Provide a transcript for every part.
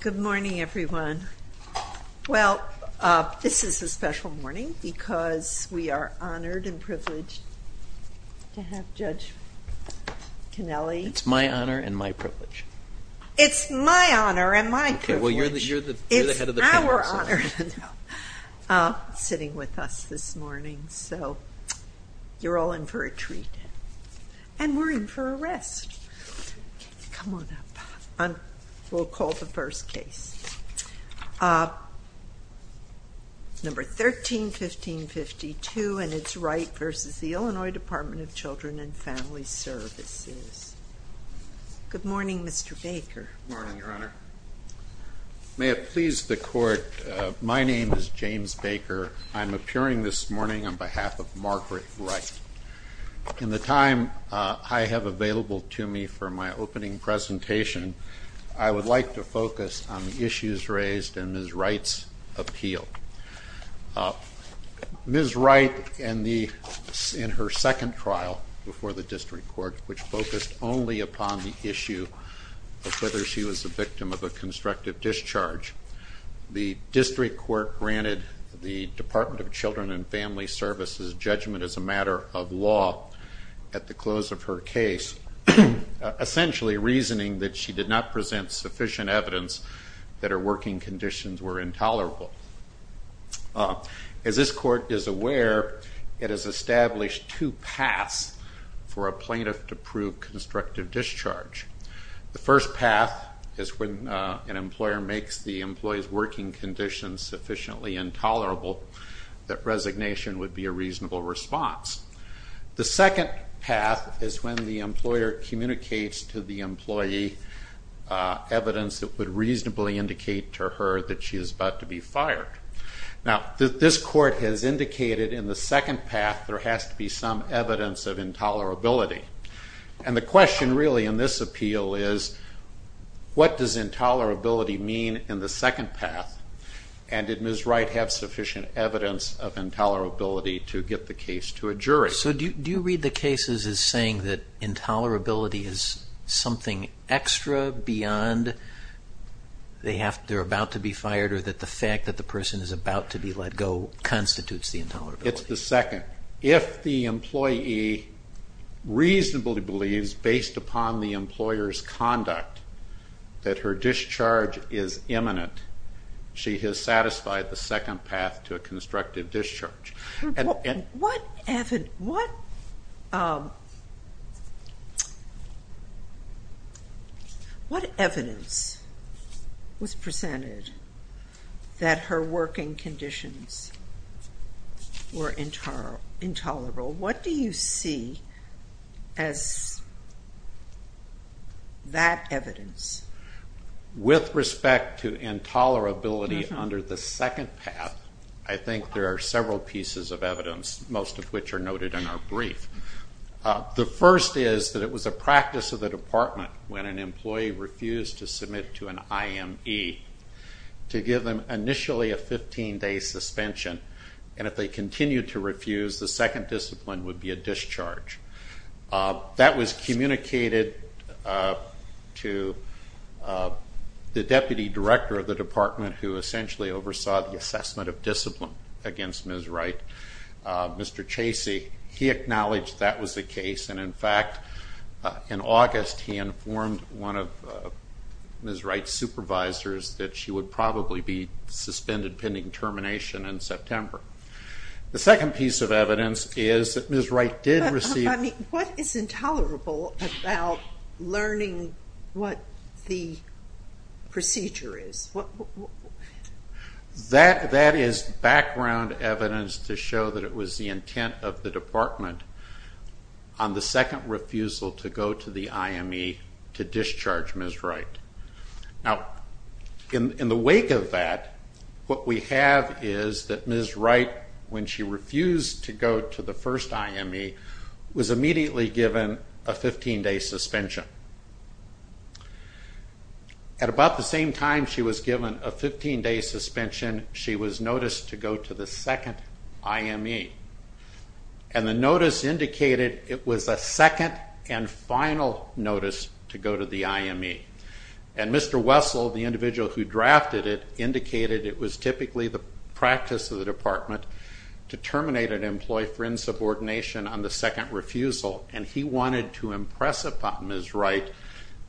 Good morning everyone. Well, this is a special morning because we are honored and privileged to have Judge Kennelly. It's my honor and my privilege. It's my honor and my privilege. Okay, well you're the head of the panel. It's our honor, sitting with us this morning. So you're all in for a treat and we're in for a rest. Come on up. We'll call the first case. Number 13-1552 and it's Wright v. Illinois Department of Children and Family Services. Good morning Mr. Baker. Morning Your Honor. May it please the court, my name is James Baker. I'm appearing this to me for my opening presentation. I would like to focus on issues raised in Ms. Wright's appeal. Ms. Wright, in her second trial before the District Court, which focused only upon the issue of whether she was a victim of a constructive discharge, the District Court granted the Department of Children and Family Services judgment as a matter of law at the close of her case, essentially reasoning that she did not present sufficient evidence that her working conditions were intolerable. As this court is aware, it has established two paths for a plaintiff to prove constructive discharge. The first path is when an employer makes the employee's working conditions sufficiently intolerable that resignation would be a reasonable response. The second path is when the employer communicates to the employee evidence that would reasonably indicate to her that she is about to be fired. Now this court has indicated in the second path there has to be some evidence of intolerability and the question really in this appeal is what does intolerability mean in the second path and did Ms. Wright have sufficient evidence of intolerability to get the case to a jury? So do you read the cases as saying that intolerability is something extra beyond they're about to be fired or that the fact that the person is about to be let go constitutes the intolerability? It's the second. If the employee reasonably believes, based upon the employer's conduct, that her has satisfied the second path to a constructive discharge. What evidence was presented that her working conditions were intolerable? What do you see as that evidence? With respect to intolerability under the second path, I think there are several pieces of evidence, most of which are noted in our brief. The first is that it was a practice of the department when an employee refused to submit to an IME to give them initially a 15-day suspension and if they continued to refuse the second discipline would be a discharge. That was communicated to the deputy director of the department who essentially oversaw the assessment of discipline against Ms. Wright, Mr. Chasey. He acknowledged that was the case and in fact in August he informed one of Ms. Wright's supervisors that she would probably be suspended pending termination in September. The second piece of evidence is that Ms. Wright did receive... What is intolerable about learning what the procedure is? That is background evidence to show that it was the intent of the department on the second refusal to go to the IME to discharge Ms. Wright. In the wake of that, what we have is that Ms. Wright, when she refused to go to the first IME, was immediately given a 15-day suspension. At about the same time she was given a 15-day suspension, she was noticed to go to the second IME and the notice indicated it was a second and final notice to go to the IME. And Mr. Wessel, the individual who drafted it, indicated it was typically the practice of the department to terminate an employee for insubordination on the second refusal and he wanted to impress upon Ms. Wright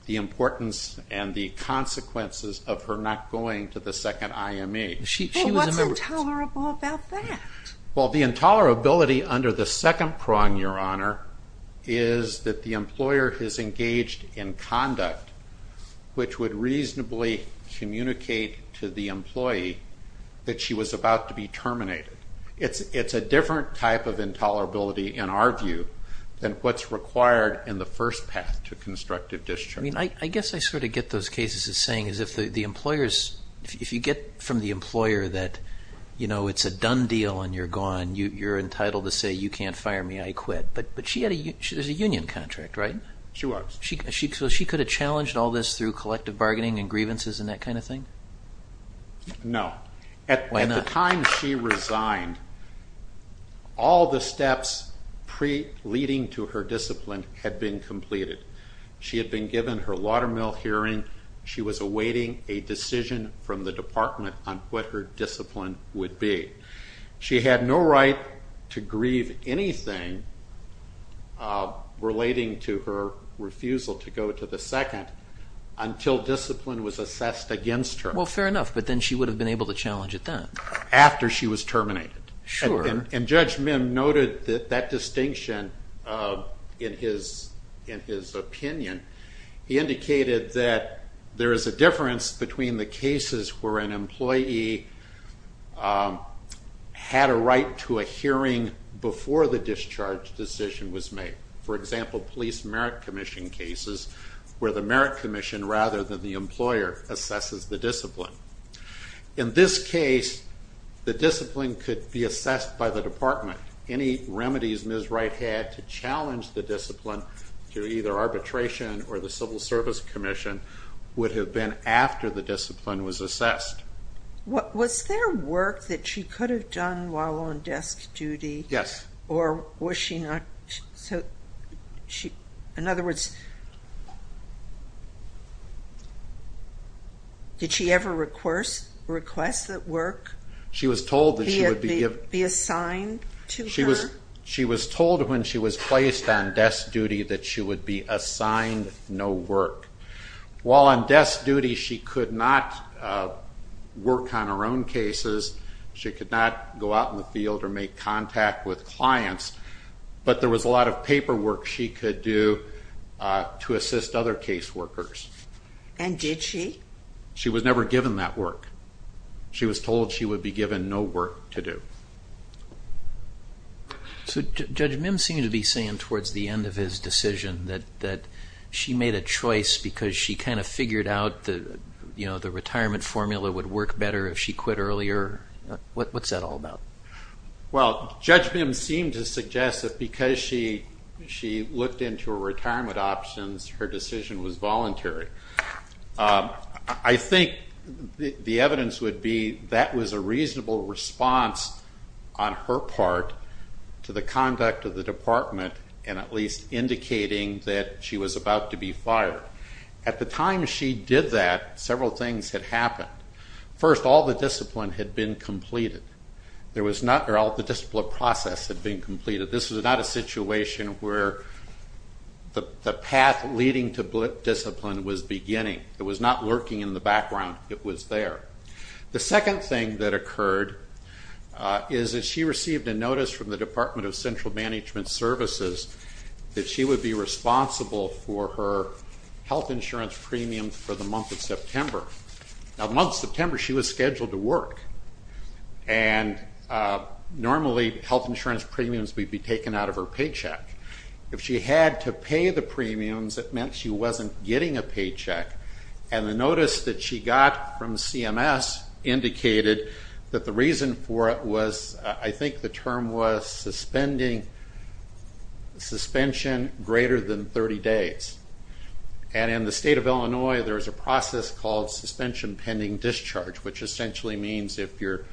the importance and the consequences of her not going to the second IME. Well, what's intolerable about that? Well, the intolerability under the second prong, Your Honor, is that the employer has engaged in conduct which would reasonably communicate to the employee that she was about to be terminated. It's a different type of intolerability in our view than what's required in the first path to constructive discharge. I mean, I guess I sort of get those cases as saying if you get from the employer that, you know, it's a done deal and you're gone, you're entitled to say you can't fire me, I quit. But she had a union contract, right? She was. So she could have challenged all this through collective bargaining and grievances and that kind of thing? No. Why not? By the time she resigned, all the steps pre-leading to her discipline had been completed. She had been given her watermill hearing. She was awaiting a decision from the department on what her discipline would be. She had no right to grieve anything relating to her refusal to go to the second until discipline was assessed against her. Well, fair enough. But then she would have been able to challenge it then? After she was terminated. Sure. And Judge Mim noted that distinction in his opinion. He indicated that there is a difference between the cases where an employee had a right to a hearing before the discharge decision was made. For example, police merit commission cases where the merit commission rather than the employer assesses the discipline. In this case, the discipline could be assessed by the department. Any remedies Ms. Wright had to challenge the discipline through either arbitration or the civil service commission would have been after the discipline was assessed. Was there work that she could have done while on desk duty? Yes. Or was she not? In other words, did she ever request that work be assigned to her? She was told when she was placed on desk duty that she would be assigned no work. While on desk duty she could not work on her own cases, she could not go out in the field or make contact with clients, but there was a lot of paperwork she could do to assist other case workers. And did she? She was never given that work. She was told she would be given no work to do. So Judge Mim seemed to be saying towards the end of his decision that she made a choice because she kind of figured out the retirement formula would work better if she quit earlier. What's that all about? Well, Judge Mim seemed to suggest that because she looked into her retirement options, her decision was voluntary. I think the evidence would be that was a reasonable response on her part to the conduct of the department and at least indicating that she was about to be fired. At the time she did that, several things had happened. First, all the discipline had been completed. All the discipline process had been completed. This was not a situation where the path leading to discipline was beginning. It was not lurking in the background. It was there. The second thing that occurred is that she received a notice from the Department of Central Management Services that she would be responsible for her health insurance premium for the month of September. Now the month of September, she was scheduled to work. Normally health insurance premiums would be taken out of her paycheck. If she had to pay the premiums, it meant she wasn't getting a paycheck. The notice that she got from CMS indicated that the reason for it was, I think the term was, suspension greater than 30 days. In the state of Illinois, there is a process called suspension pending discharge, which essentially means if your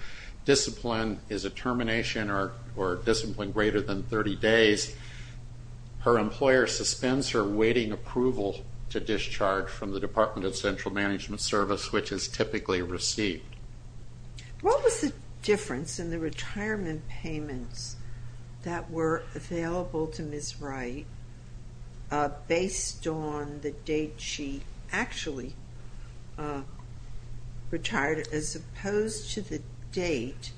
discipline is a termination or discipline greater than 30 days, her employer suspends her waiting approval to discharge from the Department of Central Management Service, which is typically received. What was the difference in the retirement payments that were available to Ms. Wright based on the date she actually retired as opposed to the date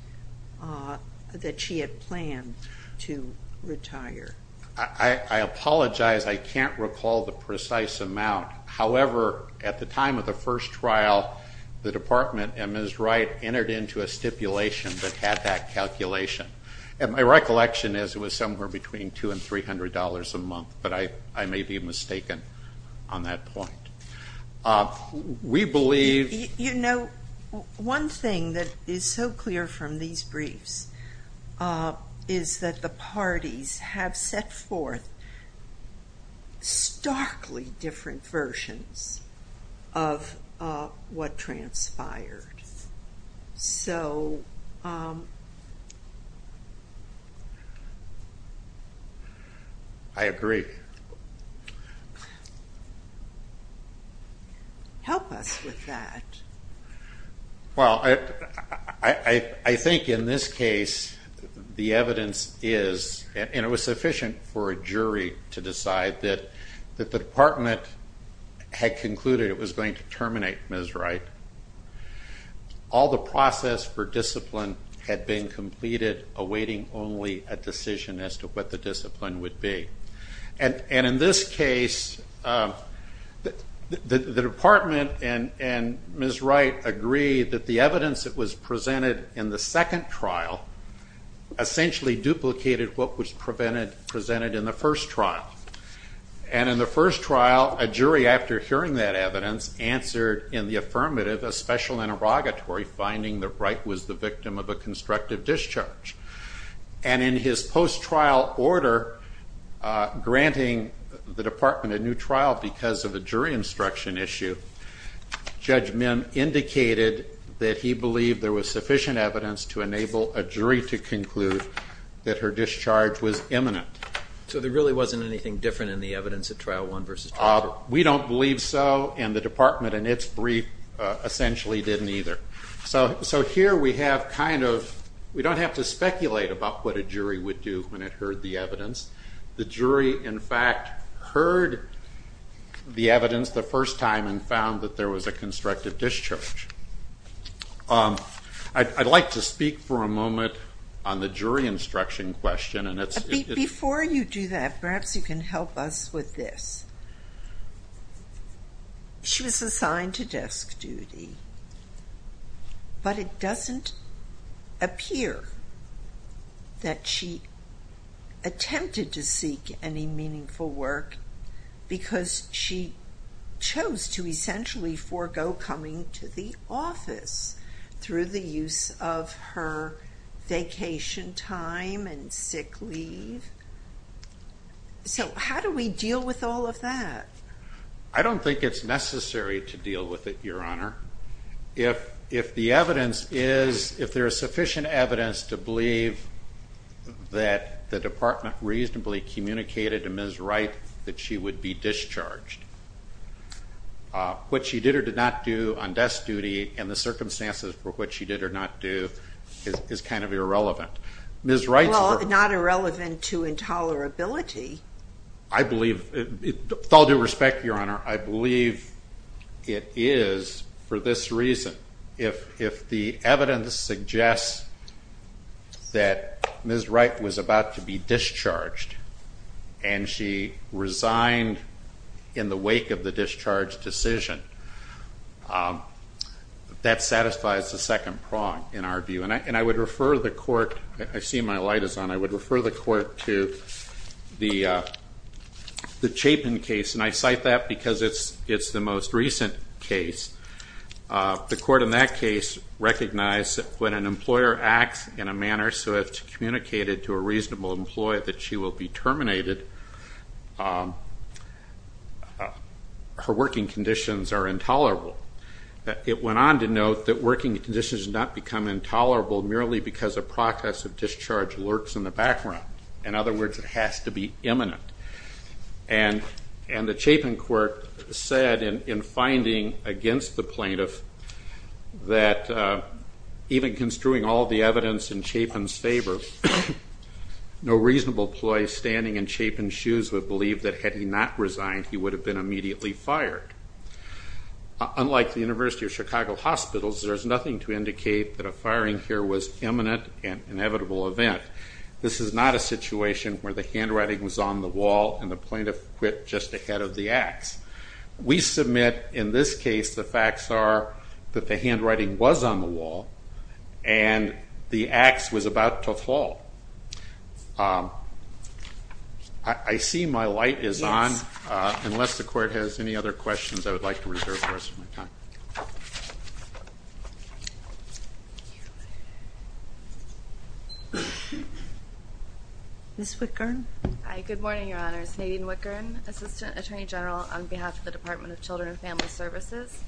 that she had planned to retire? I apologize. I can't recall the precise amount. However, at the time of the first trial, the Department and Ms. Wright entered into a stipulation that had that calculation. My recollection is it was somewhere between $200 and $300 a month, but I may be mistaken on that point. We believe- You know, one thing that is so clear from these briefs is that the parties have set forth starkly different versions of what transpired. So- I agree. Help us with that. Well, I think in this case, the evidence is, and it was sufficient for a jury to decide that the department had concluded it was going to terminate Ms. Wright. All the process for discipline had been completed, awaiting only a decision as to what the discipline would be. And in this case, the department and Ms. Wright agreed that the evidence that was presented in the second trial essentially duplicated what was presented in the first trial. And in the first trial, a jury, after hearing that evidence, answered in the affirmative a special interrogatory finding that Wright was the victim of a constructive discharge. And in his post-trial order, granting the department a new trial because of a jury instruction issue, Judge Min indicated that he believed there was sufficient evidence to enable a jury to conclude that her discharge was imminent. So there really wasn't anything different in the evidence at Trial 1 versus Trial 2? We don't believe so, and the department in its brief essentially didn't either. So here we have kind of, we don't have to speculate about what a jury would do when it heard the evidence. The jury, in fact, heard the evidence the first time and found that there was a constructive discharge. I'd like to speak for a moment on the jury instruction question. Before you do that, perhaps you can help us with this. She was assigned to desk duty, but it doesn't appear that she attempted to seek any meaningful work because she chose to essentially forego coming to the office through the use of her vacation time and sick leave. So how do we deal with all of that? I don't think it's necessary to deal with it, Your Honor. If the evidence is, if there is sufficient evidence to believe that the department reasonably communicated to Ms. Wright that she would be discharged, what she did or did not do on desk duty and the circumstances for what she did or did not do is kind of irrelevant. Well, not irrelevant to intolerability. I believe, with all due respect, Your Honor, I believe it is for this reason. If the evidence suggests that Ms. Wright was about to be discharged and she resigned in the wake of the discharge decision, that satisfies the second prong in our view. And I would refer the court, I see my light is on, I would refer the court to the Chapin case, and I cite that because it's the most recent case. The court in that case recognized that when an employer acts in a manner so as to communicate it to a reasonable employer that she will be terminated, her working conditions are intolerable. It went on to note that working conditions do not become intolerable merely because a process of discharge lurks in the background. In other words, it has to be imminent. And the Chapin court said in finding against the plaintiff that even construing all the evidence in Chapin's favor, no reasonable employee standing in Chapin's shoes would believe that had he not resigned, he would have been immediately fired. Unlike the University of Chicago hospitals, there's nothing to indicate that a firing here was imminent and an inevitable event. This is not a situation where the handwriting was on the wall and the plaintiff quit just ahead of the ax. We submit in this case the facts are that the handwriting was on the wall and the ax was about to fall. I see my light is on. Unless the court has any other questions, I would like to reserve the rest of my time. Ms. Wickern. Good morning, Your Honors. Nadine Wickern, Assistant Attorney General on behalf of the Department of Children and Family Services.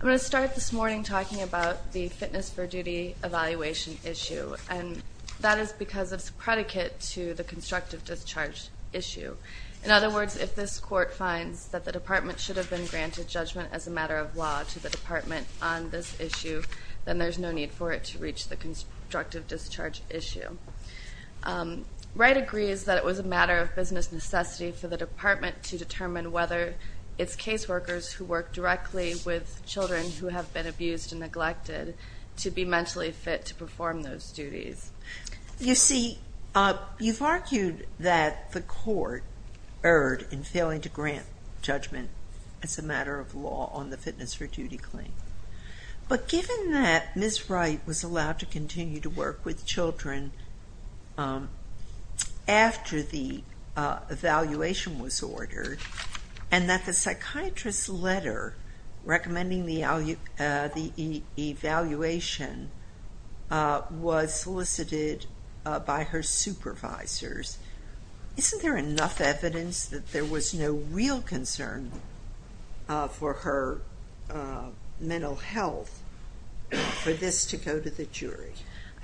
I'm going to start this morning talking about the fitness for duty evaluation issue. And that is because it's a predicate to the constructive discharge issue. In other words, if this court finds that the department should have been granted judgment as a matter of law to the department on this issue, then there's no need for it to reach the constructive discharge issue. Wright agrees that it was a matter of business necessity for the department to determine whether it's caseworkers who work directly with children who have been abused and neglected to be mentally fit to perform those duties. You see, you've argued that the court erred in failing to grant judgment as a matter of law on the fitness for duty claim. But given that Ms. Wright was allowed to continue to work with children after the evaluation was ordered, and that the psychiatrist's letter recommending the evaluation was solicited by her supervisors, isn't there enough evidence that there was no real concern for her mental health for this to go to the jury?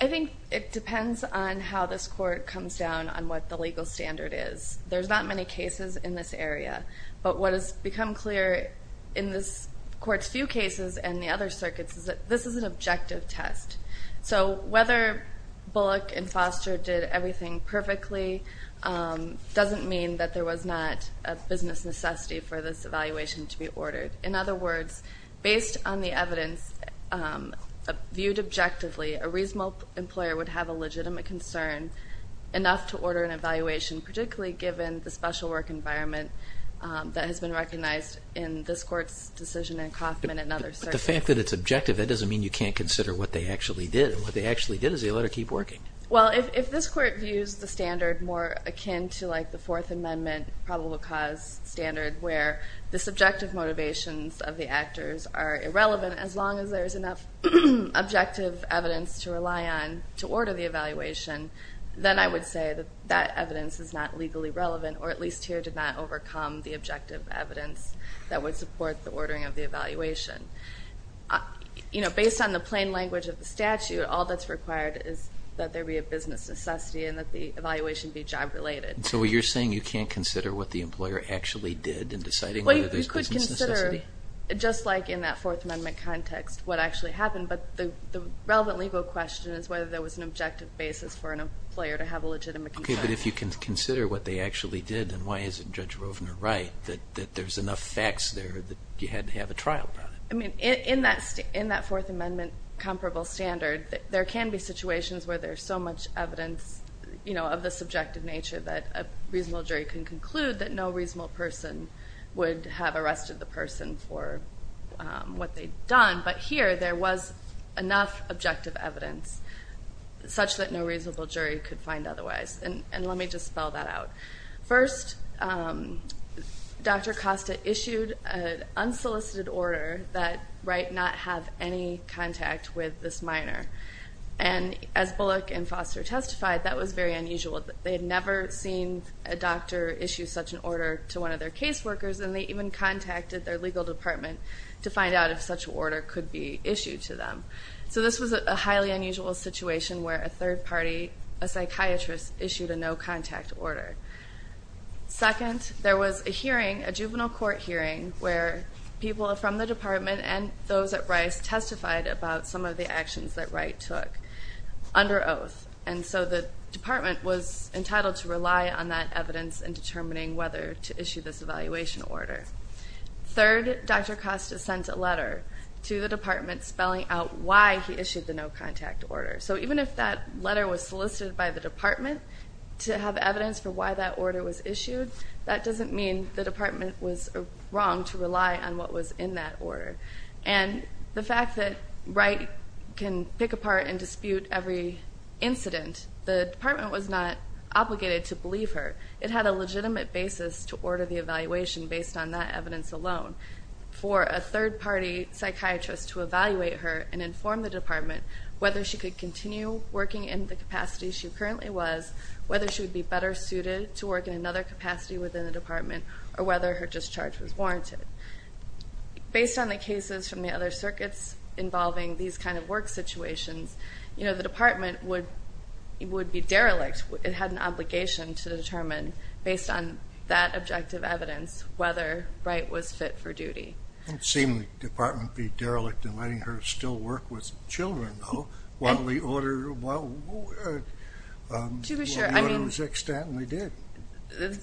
I think it depends on how this court comes down on what the legal standard is. There's not many cases in this area. But what has become clear in this court's few cases and the other circuits is that this is an objective test. So whether Bullock and Foster did everything perfectly doesn't mean that there was not a business necessity for this evaluation to be ordered. In other words, based on the evidence viewed objectively, a reasonable employer would have a legitimate concern enough to order an evaluation, particularly given the special work environment that has been recognized in this court's decision in Kaufman and other circuits. But the fact that it's objective, that doesn't mean you can't consider what they actually did. What they actually did is they let her keep working. Well, if this court views the standard more akin to like the Fourth Amendment probable cause standard where the subjective motivations of the actors are irrelevant, as long as there's enough objective evidence to rely on to order the evaluation, then I would say that that evidence is not legally relevant, or at least here did not overcome the objective evidence that would support the ordering of the evaluation. You know, based on the plain language of the statute, all that's required is that there be a business necessity and that the evaluation be job related. So you're saying you can't consider what the employer actually did in deciding whether there's business necessity? Just like in that Fourth Amendment context, what actually happened, but the relevant legal question is whether there was an objective basis for an employer to have a legitimate concern. Okay, but if you can consider what they actually did, then why isn't Judge Rovner right that there's enough facts there that you had to have a trial about it? I mean, in that Fourth Amendment comparable standard, there can be situations where there's so much evidence, you know, of the subjective nature that a reasonable jury can conclude that no reasonable person would have arrested the person for what they'd done. But here, there was enough objective evidence such that no reasonable jury could find otherwise. And let me just spell that out. First, Dr. Costa issued an unsolicited order that might not have any contact with this minor. And as Bullock and Foster testified, that was very unusual. They had never seen a doctor issue such an order to one of their caseworkers, and they even contacted their legal department to find out if such an order could be issued to them. So this was a highly unusual situation where a third party, a psychiatrist, issued a no-contact order. Second, there was a hearing, a juvenile court hearing, where people from the department and those at Rice testified about some of the actions that Wright took under oath. And so the department was entitled to rely on that evidence in determining whether to issue this evaluation order. Third, Dr. Costa sent a letter to the department spelling out why he issued the no-contact order. So even if that letter was solicited by the department to have evidence for why that order was issued, that doesn't mean the department was wrong to rely on what was in that order. And the fact that Wright can pick apart and dispute every incident, the department was not obligated to believe her. It had a legitimate basis to order the evaluation based on that evidence alone. For a third party psychiatrist to evaluate her and inform the department whether she could continue working in the capacity she currently was, whether she would be better suited to work in another capacity within the department, or whether her discharge was warranted. Based on the cases from the other circuits involving these kind of work situations, the department would be derelict. It had an obligation to determine, based on that objective evidence, whether Wright was fit for duty. It seemed the department would be derelict in letting her still work with children, though, while the order was extant, and they did.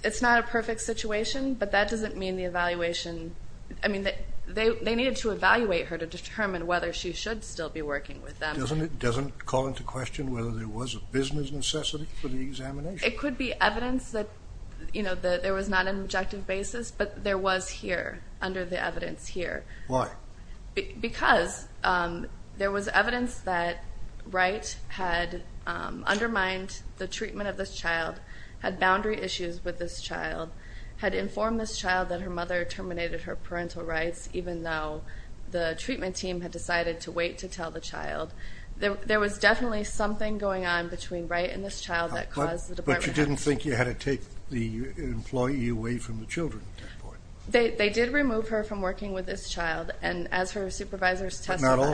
It's not a perfect situation, but that doesn't mean the evaluation... I mean, they needed to evaluate her to determine whether she should still be working with them. It doesn't call into question whether there was a business necessity for the examination? It could be evidence that there was not an objective basis, but there was here, under the evidence here. Why? Because there was evidence that Wright had undermined the treatment of this child, had boundary issues with this child, had informed this child that her mother terminated her parental rights, even though the treatment team had decided to wait to tell the child. There was definitely something going on between Wright and this child that caused the department... But you didn't think you had to take the employee away from the children at that point? They did remove her from working with this child, and as her supervisors testified... But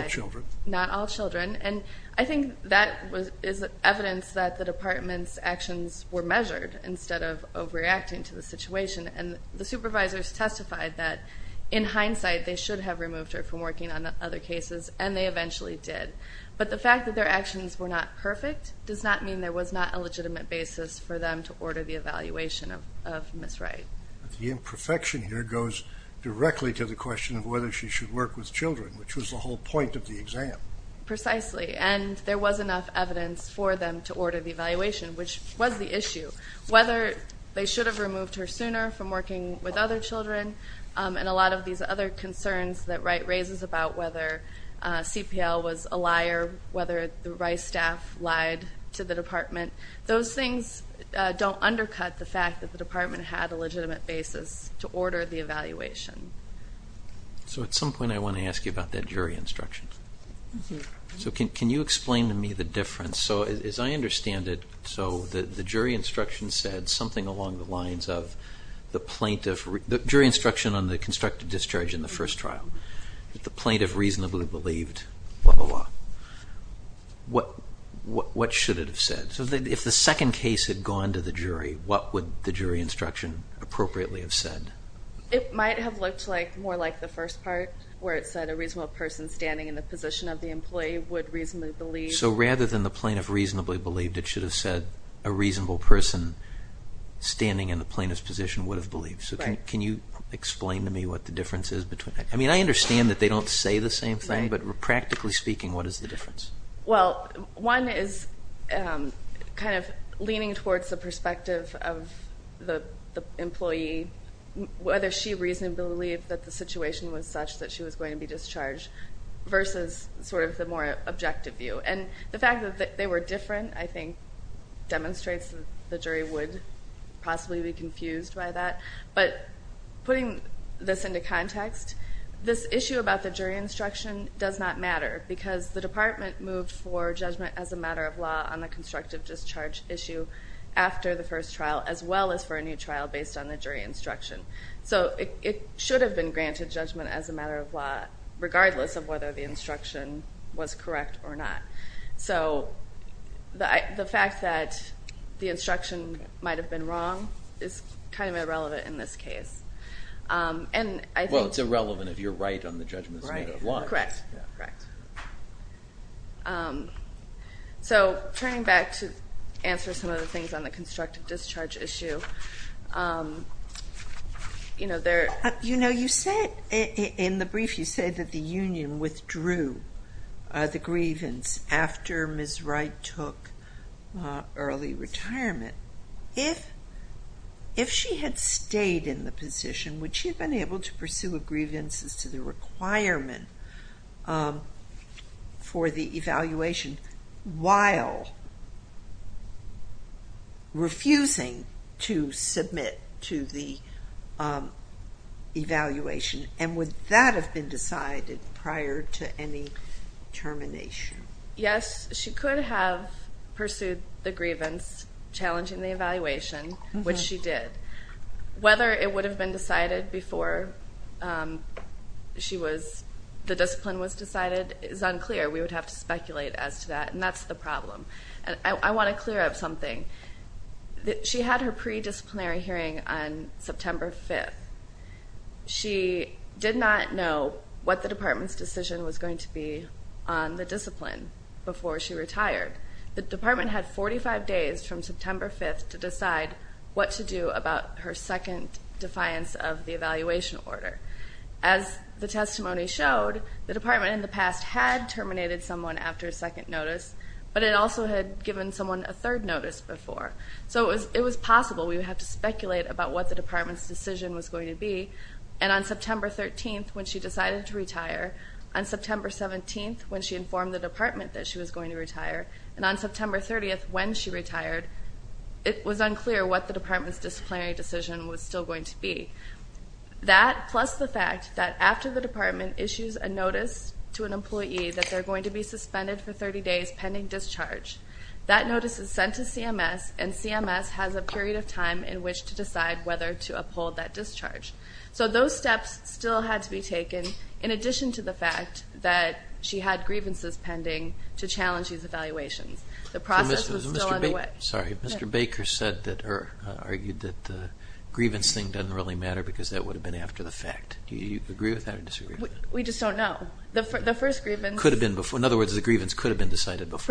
not all children. And I think that is evidence that the department's actions were measured, instead of overreacting to the situation. And the supervisors testified that, in hindsight, they should have removed her from working on other cases, and they eventually did. But the fact that their actions were not perfect does not mean there was not a legitimate basis for them to order the evaluation of Ms. Wright. The imperfection here goes directly to the question of whether she should work with children, which was the whole point of the exam. Precisely. And there was enough evidence for them to order the evaluation, which was the issue. Whether they should have removed her sooner from working with other children, and a lot of these other concerns that Wright raises about whether CPL was a liar, whether the Wright staff lied to the department, those things don't undercut the fact that the department had a legitimate basis to order the evaluation. So at some point I want to ask you about that jury instruction. Can you explain to me the difference? As I understand it, the jury instruction said something along the lines of the plaintiff... What should it have said? If the second case had gone to the jury, what would the jury instruction appropriately have said? It might have looked more like the first part, where it said a reasonable person standing in the position of the employee would reasonably believe... So rather than the plaintiff reasonably believed, it should have said a reasonable person standing in the plaintiff's position would have believed. Right. Can you explain to me what the difference is? I mean, I understand that they don't say the same thing, but practically speaking, what is the difference? Well, one is kind of leaning towards the perspective of the employee, whether she reasonably believed that the situation was such that she was going to be discharged, versus sort of the more objective view. And the fact that they were different, I think, demonstrates that the jury would possibly be confused by that. But putting this into context, this issue about the jury instruction does not matter, because the department moved for judgment as a matter of law on the constructive discharge issue after the first trial, as well as for a new trial based on the jury instruction. So it should have been granted judgment as a matter of law, regardless of whether the instruction was correct or not. So the fact that the instruction might have been wrong is kind of irrelevant in this case. Well, it's irrelevant if you're right on the judgment as a matter of law. Correct, correct. So turning back to answer some of the things on the constructive discharge issue, you know, there... after Ms. Wright took early retirement, if she had stayed in the position, would she have been able to pursue a grievance as to the requirement for the evaluation while refusing to submit to the evaluation? And would that have been decided prior to any termination? Yes, she could have pursued the grievance challenging the evaluation, which she did. Whether it would have been decided before the discipline was decided is unclear. We would have to speculate as to that, and that's the problem. I want to clear up something. She had her pre-disciplinary hearing on September 5th. She did not know what the department's decision was going to be on the discipline before she retired. The department had 45 days from September 5th to decide what to do about her second defiance of the evaluation order. As the testimony showed, the department in the past had terminated someone after a second notice, but it also had given someone a third notice before. So it was possible we would have to speculate about what the department's decision was going to be. And on September 13th, when she decided to retire, on September 17th, when she informed the department that she was going to retire, and on September 30th, when she retired, it was unclear what the department's disciplinary decision was still going to be. That, plus the fact that after the department issues a notice to an employee that they're going to be suspended for 30 days pending discharge, that notice is sent to CMS, and CMS has a period of time in which to decide whether to uphold that discharge. So those steps still had to be taken, in addition to the fact that she had grievances pending to challenge these evaluations. The process was still underway. Sorry, Mr. Baker said that or argued that the grievance thing doesn't really matter because that would have been after the fact. Do you agree with that or disagree with that? We just don't know. The first grievance could have been before.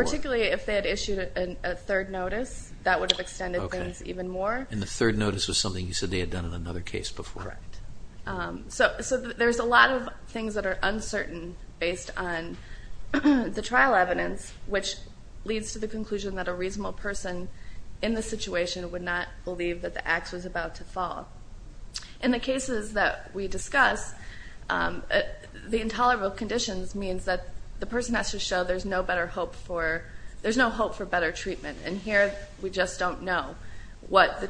Particularly if they had issued a third notice, that would have extended things even more. And the third notice was something you said they had done in another case before. Right. So there's a lot of things that are uncertain based on the trial evidence, which leads to the conclusion that a reasonable person in the situation would not believe that the ax was about to fall. In the cases that we discuss, the intolerable conditions means that the person has to show there's no hope for better treatment, and here we just don't know what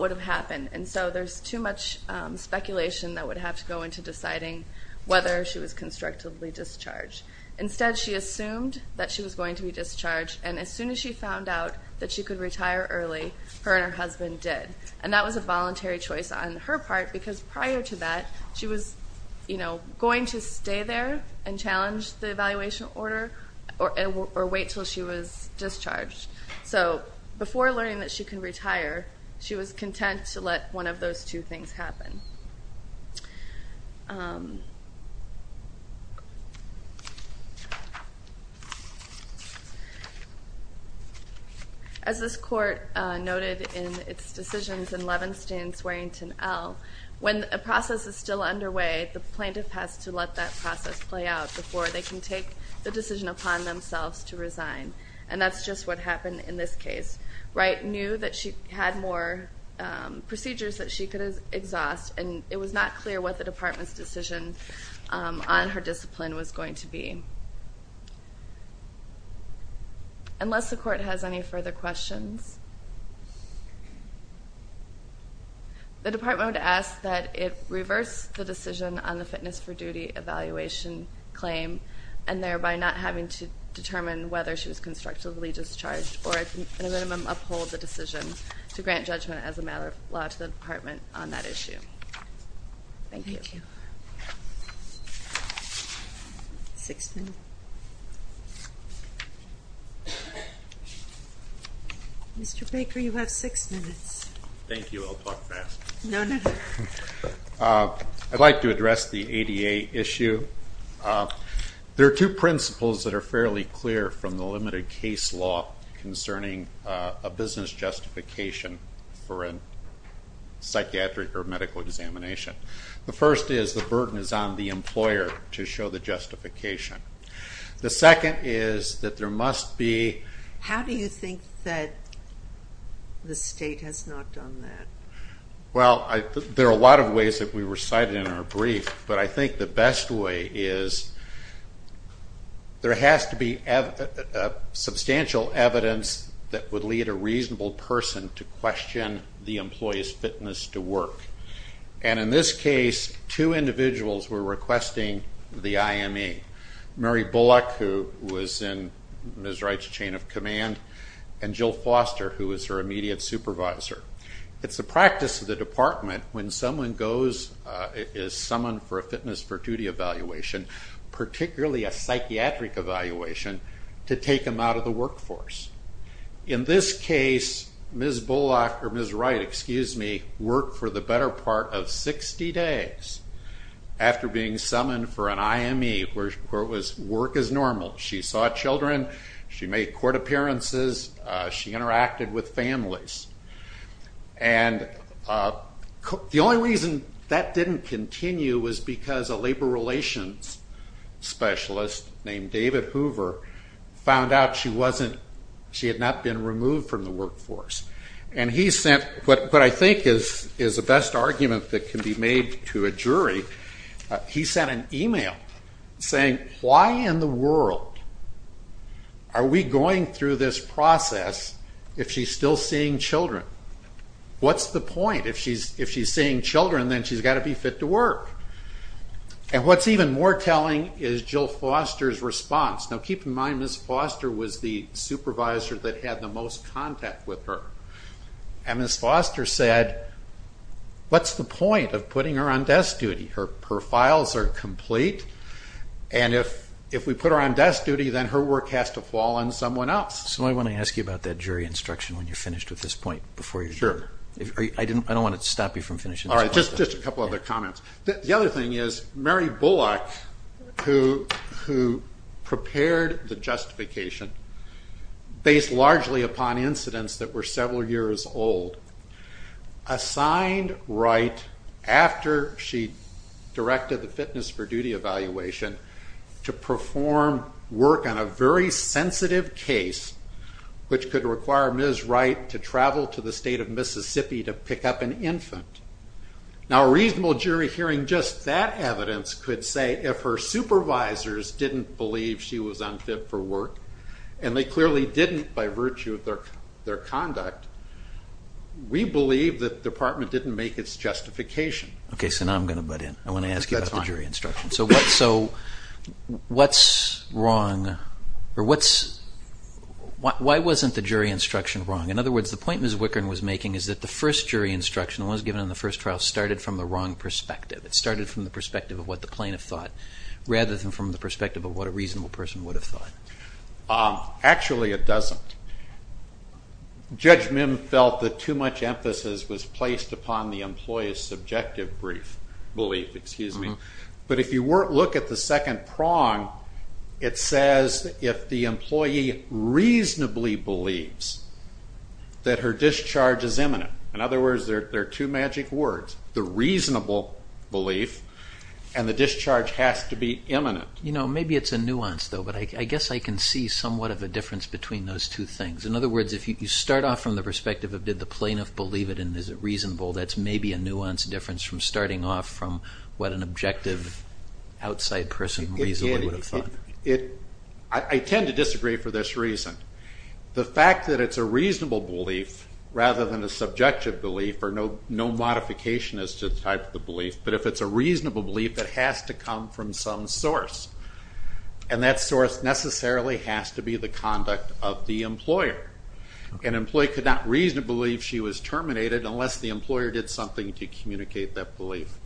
would have happened. And so there's too much speculation that would have to go into deciding whether she was constructively discharged. Instead, she assumed that she was going to be discharged, and as soon as she found out that she could retire early, her and her husband did. And that was a voluntary choice on her part because prior to that, she was going to stay there and challenge the evaluation order or wait until she was discharged. So before learning that she could retire, she was content to let one of those two things happen. As this court noted in its decisions in Levenstein, Swearington, L., when a process is still underway, the plaintiff has to let that process play out before they can take the decision upon themselves to resign. And that's just what happened in this case. Wright knew that she had more procedures that she could exhaust, and it was not clear what the department's decision on her discipline was going to be. Unless the court has any further questions... The department would ask that it reverse the decision on the fitness for duty evaluation claim and thereby not having to determine whether she was constructively discharged or at a minimum uphold the decision to grant judgment as a matter of law to the department on that issue. Thank you. Six minutes. Mr. Baker, you have six minutes. Thank you. I'll talk fast. No, no, no. I'd like to address the ADA issue. There are two principles that are fairly clear from the limited case law concerning a business justification for a psychiatric or medical examination. The first is the burden is on the employer to show the justification. The second is that there must be... How do you think that the state has not done that? Well, there are a lot of ways that we recited in our brief, but I think the best way is there has to be substantial evidence that would lead a reasonable person to question the employee's fitness to work. And in this case, two individuals were requesting the IME. Mary Bullock, who was in Ms. Wright's chain of command, and Jill Foster, who was her immediate supervisor. It's a practice of the department when someone is summoned for a fitness for duty evaluation, particularly a psychiatric evaluation, to take them out of the workforce. In this case, Ms. Bullock, or Ms. Wright, excuse me, worked for the better part of 60 days. After being summoned for an IME where it was work as normal. She saw children, she made court appearances, she interacted with families. And the only reason that didn't continue was because a labor relations specialist named David Hoover found out she had not been removed from the workforce. And he sent what I think is the best argument that can be made to a jury. He sent an email saying, why in the world are we going through this process if she's still seeing children? What's the point? If she's seeing children, then she's got to be fit to work. And what's even more telling is Jill Foster's response. Now keep in mind, Ms. Foster was the supervisor that had the most contact with her. And Ms. Foster said, what's the point of putting her on desk duty? Her files are complete. And if we put her on desk duty, then her work has to fall on someone else. So I want to ask you about that jury instruction when you're finished with this point. Sure. I don't want to stop you from finishing. All right, just a couple other comments. The other thing is, Mary Bullock, who prepared the justification based largely upon incidents that were several years old, assigned Wright, after she directed the fitness for duty evaluation, to perform work on a very sensitive case which could require Ms. Wright to travel to the state of Mississippi to pick up an infant. Now a reasonable jury hearing just that evidence could say if her supervisors didn't believe she was unfit for work, and they clearly didn't by virtue of their conduct, we believe that the Department didn't make its justification. Okay, so now I'm going to butt in. I want to ask you about the jury instruction. So why wasn't the jury instruction wrong? In other words, the point Ms. Wickern was making is that the first jury instruction, the one that was given in the first trial, started from the wrong perspective. It started from the perspective of what the plaintiff thought rather than from the perspective of what a reasonable person would have thought. Actually, it doesn't. Judge Mim felt that too much emphasis was placed upon the employee's subjective belief. But if you look at the second prong, it says if the employee reasonably believes that her discharge is imminent, in other words, there are two magic words, the reasonable belief, and the discharge has to be imminent. You know, maybe it's a nuance though, but I guess I can see somewhat of a difference between those two things. In other words, if you start off from the perspective of did the plaintiff believe it and is it reasonable, that's maybe a nuanced difference from starting off from what an objective, outside person reasonably would have thought. I tend to disagree for this reason. The fact that it's a reasonable belief rather than a subjective belief, or no modification as to the type of belief, but if it's a reasonable belief, it has to come from some source. And that source necessarily has to be the conduct of the employer. An employee could not reasonably believe she was terminated unless the employer did something to communicate that belief.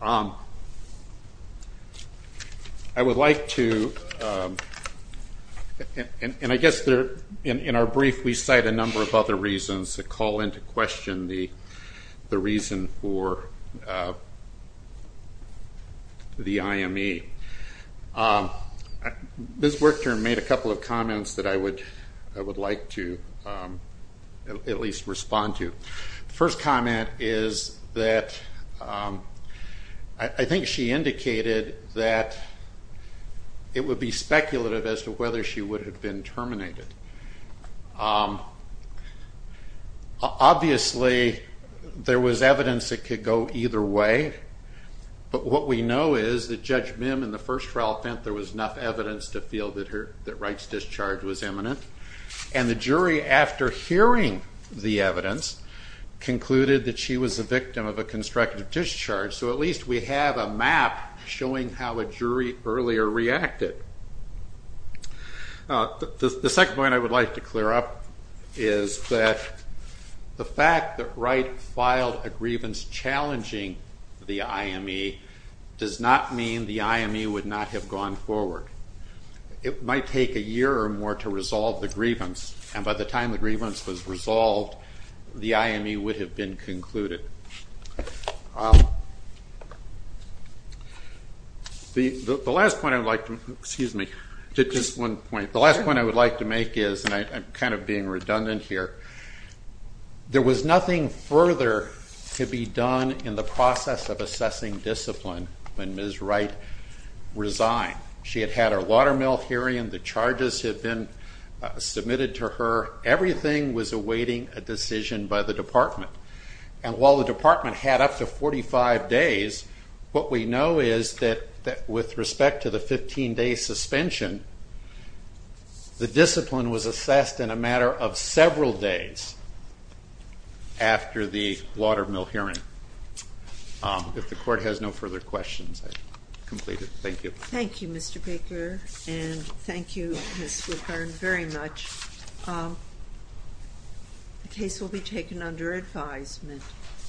I would like to, and I guess in our brief we cite a number of other reasons to call into question the reason for the IME. Ms. Werchter made a couple of comments that I would like to at least respond to. The first comment is that I think she indicated that it would be speculative as to whether she would have been terminated. Obviously there was evidence that could go either way, but what we know is that Judge Mim in the first trial felt there was enough evidence to feel that Wright's discharge was imminent. And the jury, after hearing the evidence, concluded that she was the victim of a constructive discharge. So at least we have a map showing how a jury earlier reacted. The second point I would like to clear up is that the fact that Wright filed a grievance challenging the IME does not mean the IME would not have gone forward. It might take a year or more to resolve the grievance, and by the time the grievance was resolved, the IME would have been concluded. The last point I would like to make is, and I'm kind of being redundant here, there was nothing further to be done in the process of assessing discipline when Ms. Wright resigned. She had had her water mill hearing, the charges had been submitted to her, everything was awaiting a decision by the department. And while the department had up to 45 days, what we know is that with respect to the 15-day suspension, the discipline was assessed in a matter of several days after the water mill hearing. If the court has no further questions, I complete it. Thank you. Thank you, Mr. Baker, and thank you, Ms. Woodburn, very much. The case will be taken under advisement.